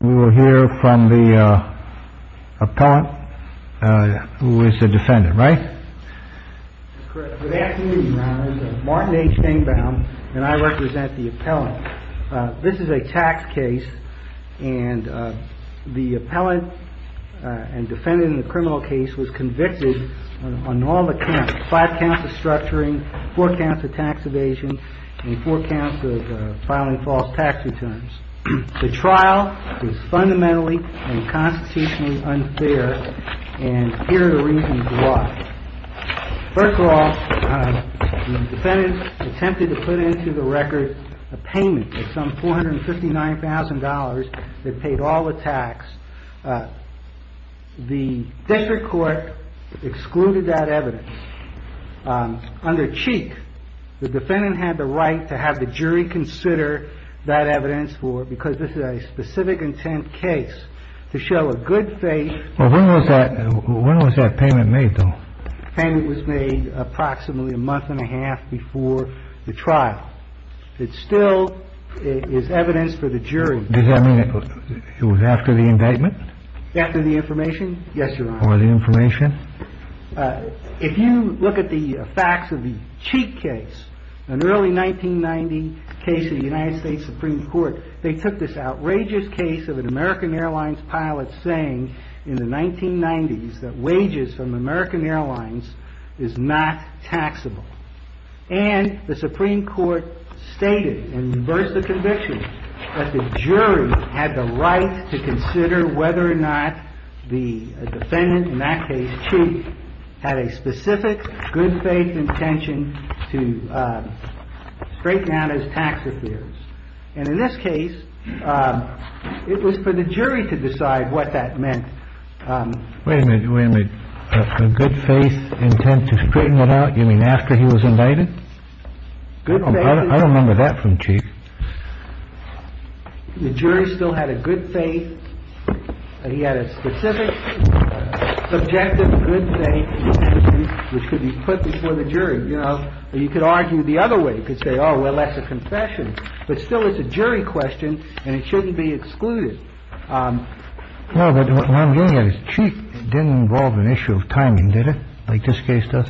We will hear from the appellant, who is the defendant, right? That's correct. Good afternoon, Your Honor. I'm Martin H. Kingbound, and I represent the appellant. This is a tax case, and the appellant and defendant in the criminal case was convicted on all the counts, 5 counts of structuring, 4 counts of tax evasion, and 4 counts of filing false tax returns. The trial is fundamentally and constitutionally unfair, and here are the reasons why. First of all, the defendant attempted to put into the record a payment of some $459,000 that paid all the tax. The district court excluded that evidence. Under Cheek, the defendant had the right to have the jury consider that evidence, because this is a specific intent case, to show a good faith. When was that payment made, though? The payment was made approximately a month and a half before the trial. It still is evidence for the jury. Does that mean it was after the indictment? After the information? Yes, Your Honor. Or the information? If you look at the facts of the Cheek case, an early 1990 case in the United States Supreme Court, they took this outrageous case of an American Airlines pilot saying in the 1990s that wages from American Airlines is not taxable. And the Supreme Court stated in reverse of conviction that the jury had the right to consider whether or not the defendant, in that case Cheek, had a specific good faith intention to straighten out his tax affairs. And in this case, it was for the jury to decide what that meant. Wait a minute. Wait a minute. A good faith intent to straighten it out? You mean after he was indicted? I don't remember that from Cheek. The jury still had a good faith. He had a specific, subjective good faith which could be put before the jury. You know, you could argue the other way. You could say, oh, well, that's a confession. But still it's a jury question and it shouldn't be excluded. No, but what I'm getting at is Cheek didn't involve an issue of timing, did it, like this case does?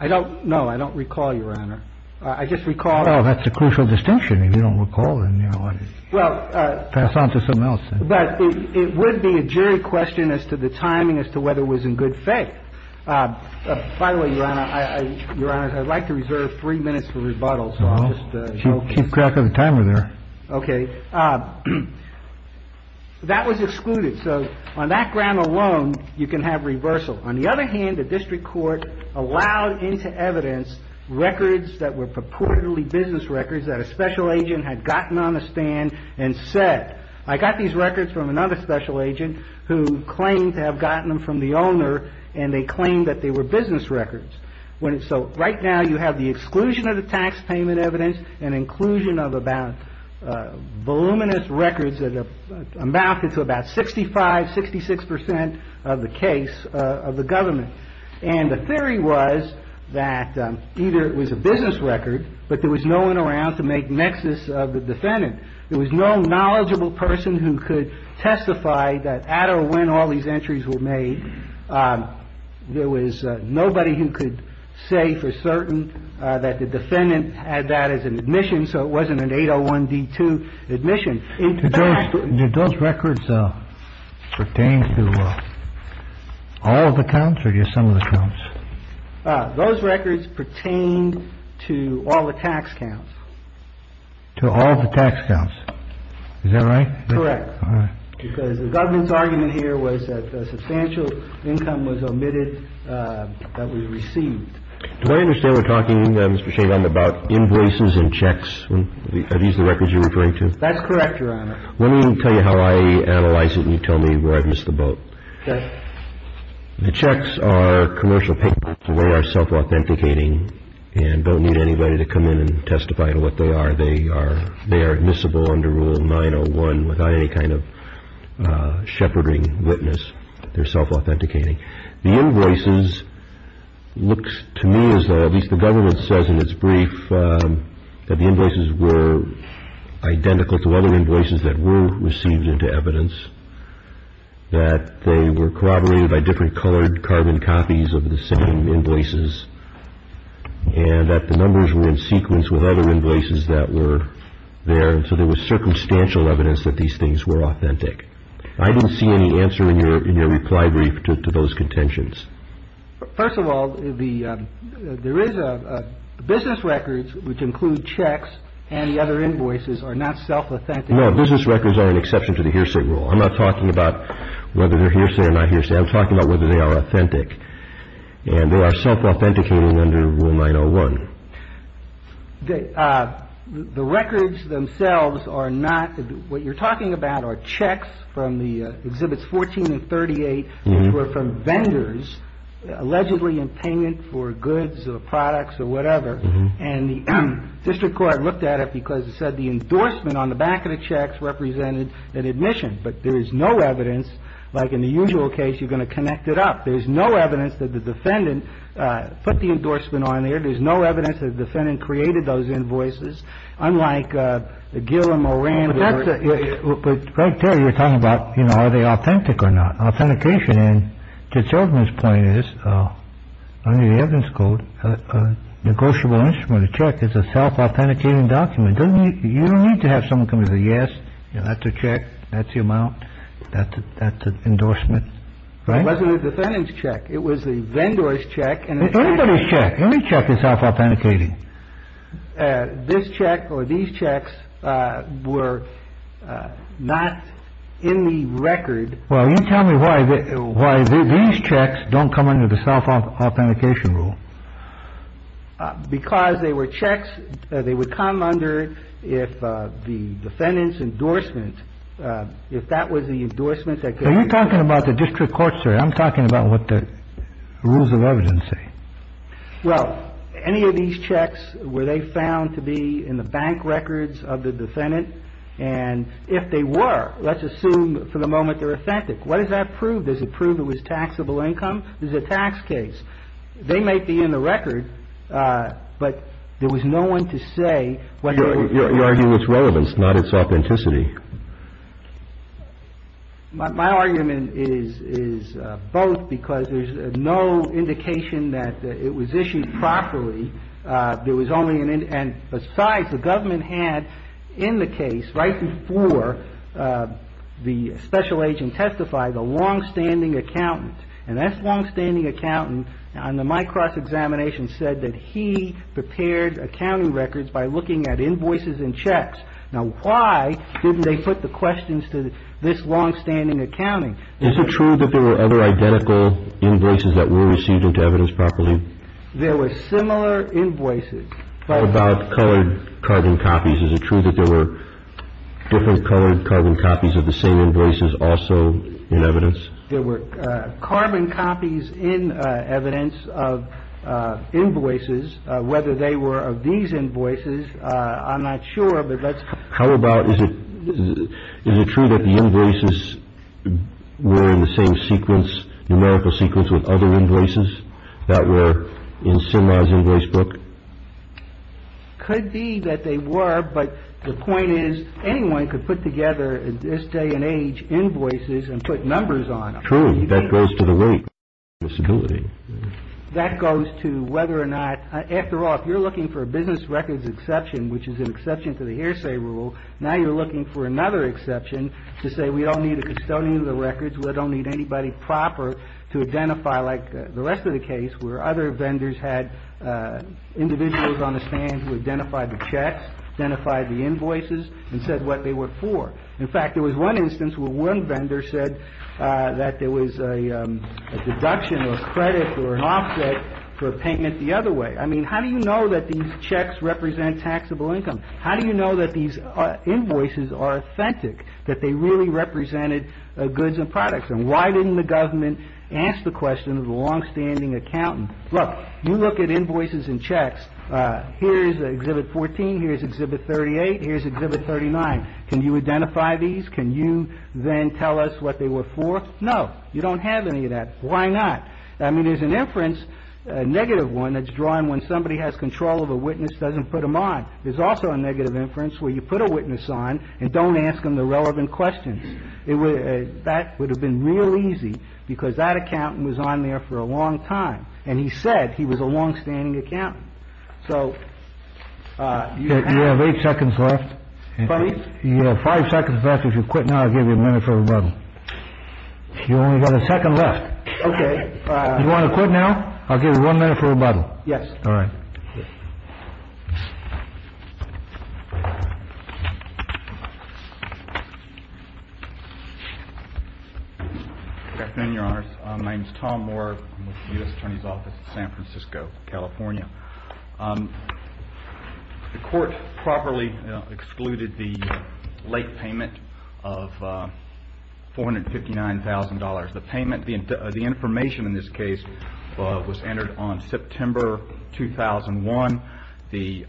I don't know. I don't recall, Your Honor. I just recall. Oh, that's a crucial distinction. If you don't recall, then, you know, pass on to something else. But it would be a jury question as to the timing as to whether it was in good faith. By the way, Your Honor, I'd like to reserve three minutes for rebuttal. Keep track of the timer there. Okay. That was excluded. So on that ground alone, you can have reversal. On the other hand, the district court allowed into evidence records that were purportedly business records that a special agent had gotten on the stand and said, I got these records from another special agent who claimed to have gotten them from the owner and they claimed that they were business records. So right now you have the exclusion of the tax payment evidence and inclusion of about voluminous records that amounted to about 65, 66 percent of the case of the government. And the theory was that either it was a business record, but there was no one around to make nexus of the defendant. There was no knowledgeable person who could testify that at or when all these entries were made. There was nobody who could say for certain that the defendant had that as an admission. So it wasn't an 801 D2 admission. Those records pertain to all of the counts or just some of the counts? Those records pertain to all the tax counts. To all the tax counts. Is that right? Correct. All right. Because the government's argument here was that the substantial income was omitted that we received. Do I understand we're talking about invoices and checks? Are these the records you're referring to? That's correct, Your Honor. Let me tell you how I analyze it and you tell me where I've missed the boat. Okay. The checks are commercial papers. They are self-authenticating and don't need anybody to come in and testify to what they are. They are admissible under Rule 901 without any kind of shepherding witness. They're self-authenticating. The invoices look to me as though, at least the government says in its brief, that the invoices were identical to other invoices that were received into evidence, that they were corroborated by different colored carbon copies of the same invoices, and that the numbers were in sequence with other invoices that were there, and so there was circumstantial evidence that these things were authentic. I didn't see any answer in your reply brief to those contentions. First of all, there is a business records which include checks and the other invoices are not self-authentic. No, business records are an exception to the hearsay rule. I'm not talking about whether they're hearsay or not hearsay. I'm talking about whether they are authentic. And they are self-authenticating under Rule 901. The records themselves are not. What you're talking about are checks from the Exhibits 14 and 38, which were from vendors allegedly in payment for goods or products or whatever, and the district court looked at it because it said the endorsement on the back of the checks represented an admission, but there is no evidence, like in the usual case, you're going to connect it up. There's no evidence that the defendant put the endorsement on there. There's no evidence that the defendant created those invoices, unlike the Gill and Moran. But right there you're talking about, you know, are they authentic or not? Authentication, and to children's point is, under the evidence code, a negotiable instrument, a check is a self-authenticating document. You don't need to have someone come in and say, yes, that's a check, that's the amount, that's an endorsement. It wasn't the defendant's check. It was the vendor's check. It's anybody's check. Any check is self-authenticating. This check or these checks were not in the record. Well, you tell me why these checks don't come under the self-authentication rule. Because they were checks that they would come under if the defendant's endorsement, if that was the endorsement. Are you talking about the district court, sir? I'm talking about what the rules of evidence say. Well, any of these checks were they found to be in the bank records of the defendant, and if they were, let's assume for the moment they're authentic. What does that prove? Does it prove it was taxable income? Is it a tax case? They might be in the record, but there was no one to say whether it was. It's relevance, not its authenticity. My argument is both, because there's no indication that it was issued properly. Besides, the government had in the case, right before the special agent testified, the long-standing accountant, and that long-standing accountant on the Mike Cross examination said that he prepared accounting records by looking at invoices and checks. Now, why didn't they put the questions to this long-standing accounting? Is it true that there were other identical invoices that were received into evidence properly? There were similar invoices. What about colored carbon copies? Is it true that there were different colored carbon copies of the same invoices also in evidence? There were carbon copies in evidence of invoices. Whether they were of these invoices, I'm not sure, but let's... How about, is it true that the invoices were in the same sequence, numerical sequence with other invoices that were in Sima's invoice book? Could be that they were, but the point is, anyone could put together, in this day and age, invoices and put numbers on them. True, that goes to the rate of security. That goes to whether or not, after all, if you're looking for a business records exception, which is an exception to the hearsay rule, now you're looking for another exception to say we don't need a custodian of the records, we don't need anybody proper to identify, like the rest of the case, where other vendors had individuals on the stand who identified the checks, identified the invoices, and said what they were for. In fact, there was one instance where one vendor said that there was a deduction or credit or an offset for payment the other way. I mean, how do you know that these checks represent taxable income? How do you know that these invoices are authentic, that they really represented goods and products? And why didn't the government ask the question of the longstanding accountant? Look, you look at invoices and checks. Here's Exhibit 14, here's Exhibit 38, here's Exhibit 39. Can you identify these? Can you then tell us what they were for? No, you don't have any of that. Why not? I mean, there's an inference, a negative one, that's drawn when somebody has control of a witness, doesn't put them on. There's also a negative inference where you put a witness on and don't ask them the relevant questions. That would have been real easy because that accountant was on there for a long time, and he said he was a longstanding accountant. So you have eight seconds left. You have five seconds left. If you quit now, I'll give you a minute for rebuttal. You only got a second left. OK. You want to quit now? I'll give you one minute for rebuttal. Yes. All right. Good afternoon, Your Honors. My name is Tom Moore. I'm with the U.S. Attorney's Office in San Francisco, California. The court properly excluded the late payment of $459,000. The information in this case was entered on September 2001. The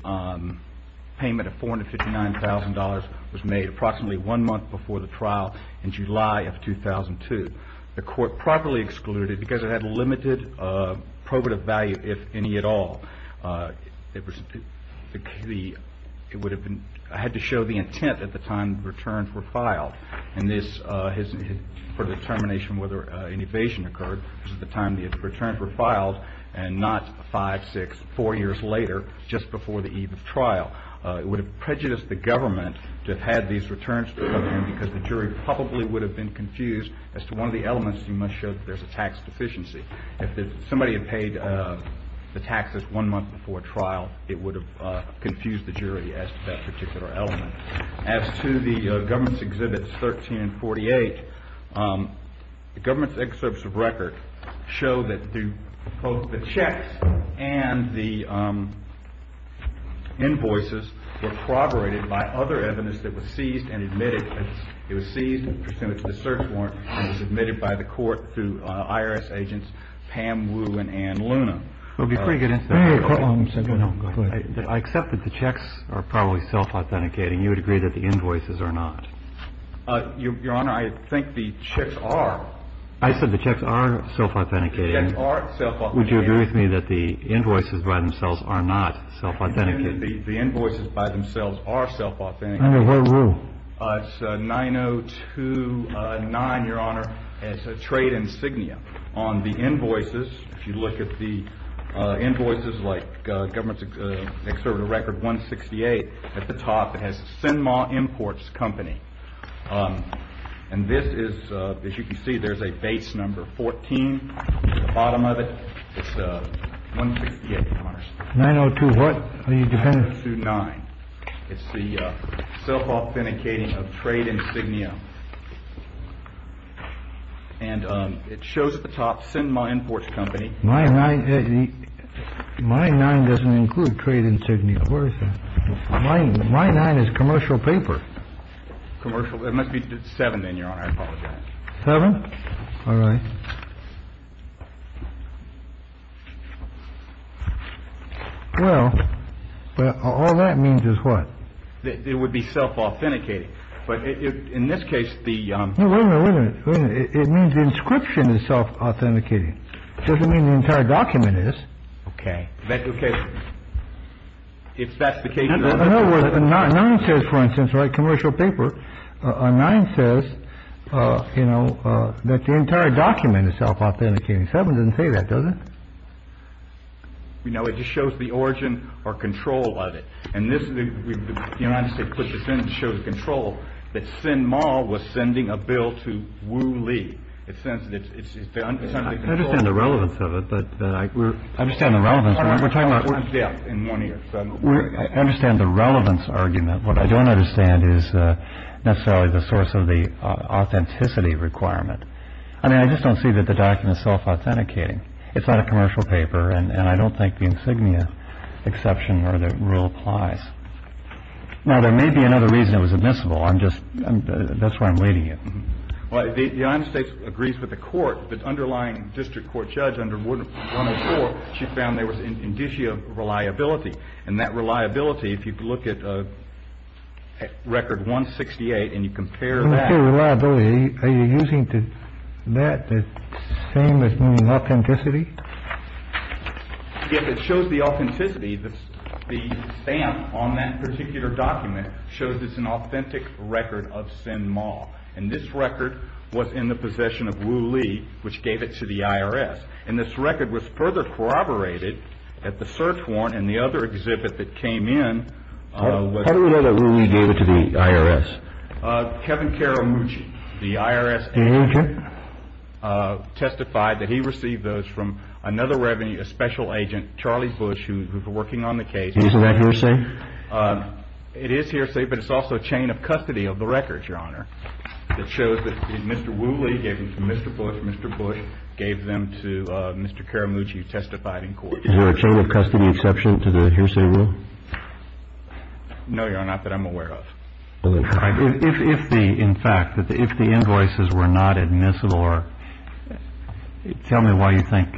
payment of $459,000 was made approximately one month before the trial in July of 2002. The court properly excluded because it had limited probative value, if any at all. It had to show the intent at the time the returns were filed, and this is for determination whether an evasion occurred at the time the returns were filed and not five, six, four years later, just before the eve of trial. It would have prejudiced the government to have had these returns come in because the jury probably would have been confused. As to one of the elements, you must show that there's a tax deficiency. If somebody had paid the taxes one month before trial, it would have confused the jury as to that particular element. As to the government's Exhibits 13 and 48, the government's excerpts of record show that the checks and the invoices were corroborated by other evidence that was seized and admitted. It was seized and presented to the search warrant and was admitted by the court through IRS agents Pam Wu and Ann Luna. I accept that the checks are probably self-authenticating. You would agree that the invoices are not? Your Honor, I think the checks are. I said the checks are self-authenticating. The checks are self-authenticating. Would you agree with me that the invoices by themselves are not self-authenticating? The invoices by themselves are self-authenticating. What rule? It's 9029, Your Honor, as a trade insignia. On the invoices, if you look at the invoices, like government's excerpt of record 168 at the top, it has CINMA Imports Company. And this is, as you can see, there's a base number 14 at the bottom of it. It's 168, Your Honor. 902 what? Are you dependent? 902-9. It's the self-authenticating of trade insignia. And it shows at the top CINMA Imports Company. My 9 doesn't include trade insignia. Where is that? My 9 is commercial paper. Commercial? It must be 7 then, Your Honor. I apologize. 7? All right. Well, all that means is what? It would be self-authenticating. But in this case, the. No, wait a minute. It means inscription is self-authenticating. It doesn't mean the entire document is. OK. OK. If that's the case. 9 says, for instance, right, commercial paper. 9 says, you know, that the entire document is self-authenticating. 7 doesn't say that, does it? You know, it just shows the origin or control of it. And this is the United States put this in. It shows control that CINMA was sending a bill to Wu Li. It says that it's. I understand the relevance of it, but I understand the relevance. I understand the relevance argument. What I don't understand is necessarily the source of the authenticity requirement. I mean, I just don't see that the document is self-authenticating. It's not a commercial paper. And I don't think the insignia exception or the rule applies. Now, there may be another reason it was admissible. I'm just that's where I'm leading it. The United States agrees with the court. The underlying district court judge under 104, she found there was indicia reliability. And that reliability, if you look at record 168 and you compare that. Reliability, are you using that same as meaning authenticity? It shows the authenticity. The stamp on that particular document shows it's an authentic record of CINMA. And this record was in the possession of Wu Li, which gave it to the IRS. And this record was further corroborated at the search warrant and the other exhibit that came in. How do we know that Wu Li gave it to the IRS? Kevin Karamucci, the IRS agent, testified that he received those from another revenue, a special agent, Charlie Bush, who was working on the case. Isn't that hearsay? It is hearsay, but it's also a chain of custody of the records, Your Honor. It shows that Mr. Wu Li gave them to Mr. Bush. Mr. Bush gave them to Mr. Karamucci, who testified in court. Is there a chain of custody exception to the hearsay rule? No, Your Honor. Not that I'm aware of. If the, in fact, if the invoices were not admissible or tell me why you think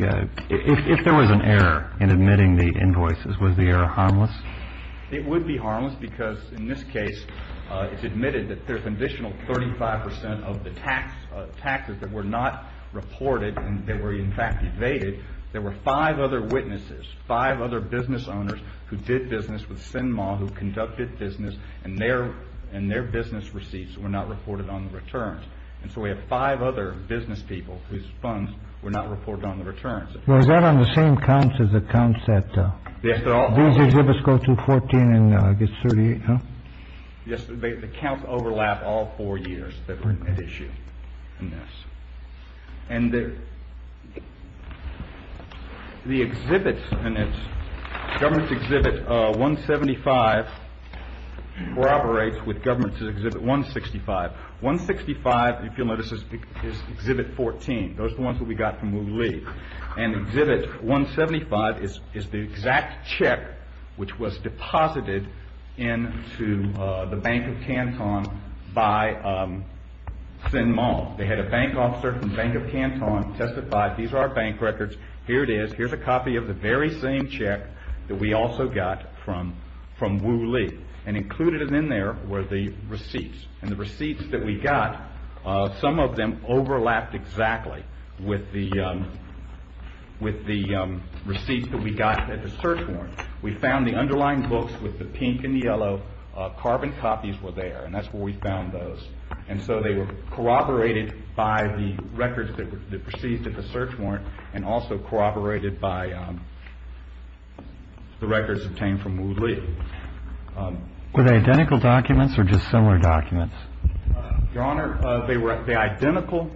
if there was an error in admitting the invoices, was the error harmless? It would be harmless, because in this case it's admitted that there's an additional 35% of the taxes that were not reported and that were, in fact, evaded. There were five other witnesses, five other business owners, who did business with Sinmah, who conducted business, and their business receipts were not reported on the returns. And so we have five other business people whose funds were not reported on the returns. Well, is that on the same counts as the counts that these exhibits go to, 14 and I guess 38, no? Yes, the counts overlap all four years that were at issue in this. And the exhibits in this, Government's Exhibit 175 corroborates with Government's Exhibit 165. 165, if you'll notice, is Exhibit 14. Those are the ones that we got from Wu Lee. And Exhibit 175 is the exact check which was deposited into the Bank of Canton by Sinmah. They had a bank officer from the Bank of Canton testify, these are our bank records, here it is, here's a copy of the very same check that we also got from Wu Lee. And included in there were the receipts. And the receipts that we got, some of them overlapped exactly with the receipts that we got at the search warrant. We found the underlying books with the pink and the yellow carbon copies were there, and that's where we found those. And so they were corroborated by the records that were seized at the search warrant and also corroborated by the records obtained from Wu Lee. Were they identical documents or just similar documents? Your Honor, they were identical.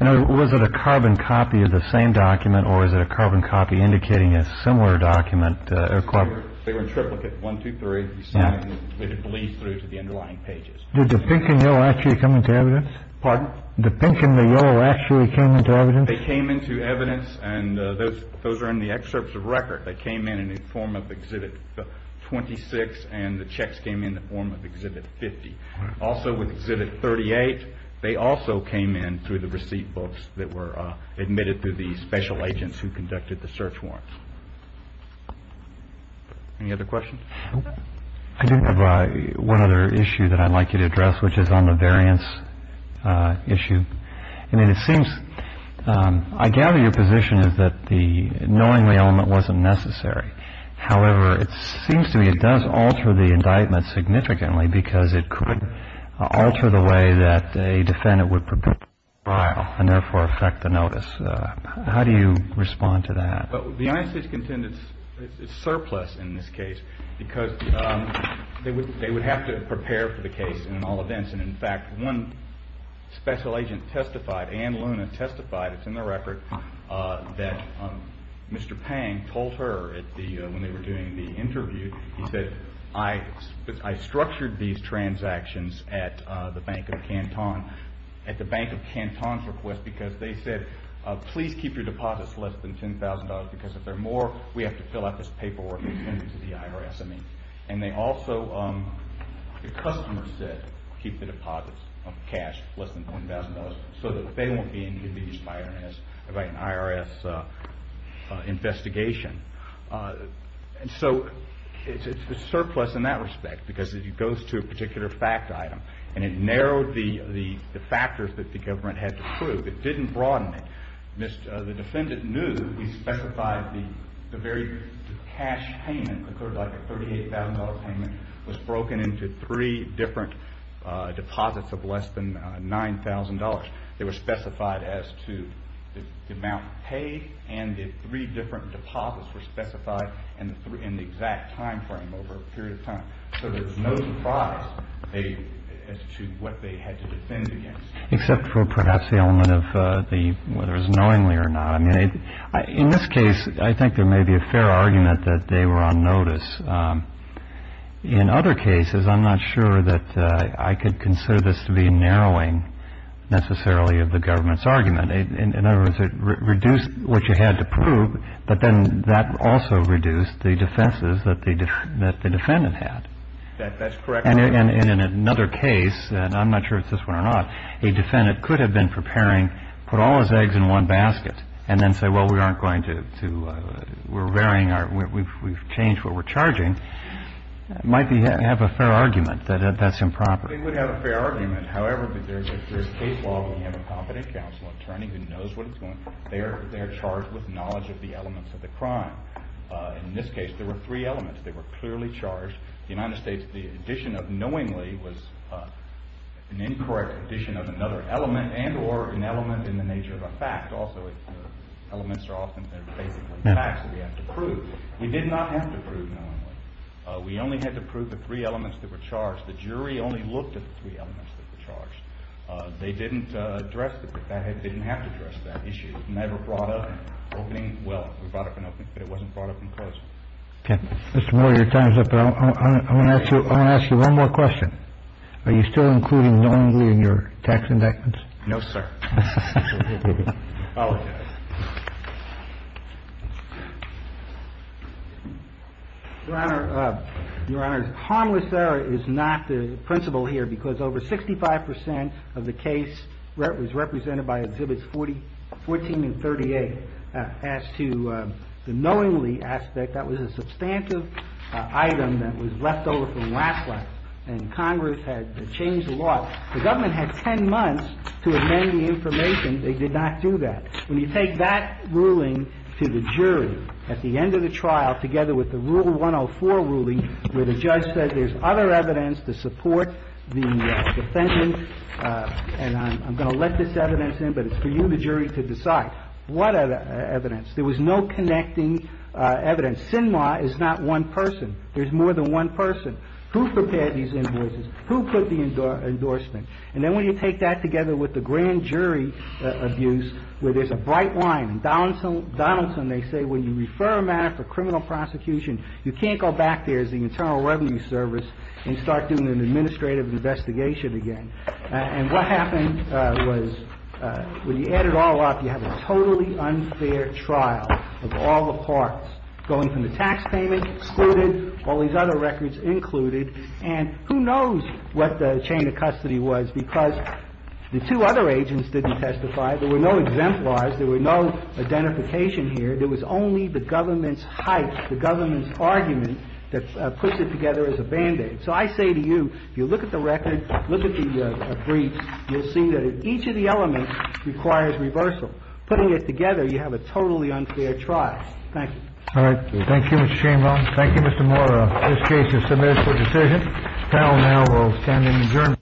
And was it a carbon copy of the same document or is it a carbon copy indicating a similar document? They were in triplicate, one, two, three. Did the pink and yellow actually come into evidence? Pardon? Did the pink and the yellow actually come into evidence? They came into evidence and those are in the excerpts of record. They came in in the form of Exhibit 26 and the checks came in the form of Exhibit 50. Also with Exhibit 38, they also came in through the receipt books that were admitted to the special agents who conducted the search warrants. Any other questions? I do have one other issue that I'd like you to address, which is on the variance issue. I mean, it seems, I gather your position is that the knowingly element wasn't necessary. However, it seems to me it does alter the indictment significantly because it could alter the way that a defendant would prepare a trial and therefore affect the notice. How do you respond to that? The INC's contendence is surplus in this case because they would have to prepare for the case in all events. In fact, one special agent testified, Ann Luna testified, it's in the record, that Mr. Pang told her when they were doing the interview, he said, I structured these transactions at the Bank of Canton's request because they said, please keep your deposits less than $10,000 because if they're more, we have to fill out this paperwork and send it to the IRS. And they also, the customer said, keep the deposits of cash less than $1,000 so that they won't be interviewed by an IRS investigation. So it's surplus in that respect because it goes to a particular fact item and it narrowed the factors that the government had to prove. It didn't broaden it. The defendant knew, he specified the very cash payment occurred like a $38,000 payment was broken into three different deposits of less than $9,000. They were specified as to the amount paid and the three different deposits were specified in the exact timeframe over a period of time. So there's no surprise as to what they had to defend against. Except for perhaps the element of whether it was knowingly or not. In this case, I think there may be a fair argument that they were on notice. In other cases, I'm not sure that I could consider this to be narrowing necessarily of the government's argument. In other words, it reduced what you had to prove, but then that also reduced the defenses that the defendant had. That's correct. And in another case, and I'm not sure if it's this one or not, a defendant could have been preparing, put all his eggs in one basket, and then say, well, we aren't going to, we're varying our, we've changed what we're charging. Might have a fair argument that that's improper. They would have a fair argument. However, there's a case law where you have a competent counsel attorney who knows what's going on. They are charged with knowledge of the elements of the crime. In this case, there were three elements. They were clearly charged. The United States, the addition of knowingly was an incorrect addition of another element and or an element in the nature of a fact. Also, elements are often basically facts that we have to prove. We did not have to prove knowingly. We only had to prove the three elements that were charged. The jury only looked at the three elements that were charged. They didn't address, didn't have to address that issue. It was never brought up in opening. Well, it was brought up in opening, but it wasn't brought up in closing. Mr. Moore, your time's up. I'm going to ask you one more question. Are you still including knowingly in your tax indictments? No, sir. Your Honor, harmless error is not the principle here because over 65% of the case was represented by Exhibits 14 and 38. As to the knowingly aspect, that was a substantive item that was left over from last time. And Congress had changed the law. The government had 10 months to amend the information. They did not do that. When you take that ruling to the jury at the end of the trial, together with the Rule 104 ruling where the judge said there's other evidence to support the defendant, and I'm going to let this evidence in, but it's for you, the jury, to decide. What other evidence? There was no connecting evidence. Sinma is not one person. There's more than one person. Who prepared these invoices? Who put the endorsement? And then when you take that together with the grand jury abuse where there's a bright line. In Donaldson, they say when you refer a matter for criminal prosecution, you can't go back there as the Internal Revenue Service and start doing an administrative investigation again. And what happened was when you add it all up, you have a totally unfair trial of all the parts, going from the tax payment excluded, all these other records included. And who knows what the chain of custody was because the two other agents didn't testify. There were no exemplars. There were no identification here. There was only the government's hype, the government's argument that puts it together as a Band-Aid. So I say to you, if you look at the record, look at the briefs, you'll see that each of the elements requires reversal. Putting it together, you have a totally unfair trial. Thank you. All right. Thank you, Mr. Chamberlain. Thank you, Mr. Moore. This case is submitted for decision. The panel now will stand and adjourn.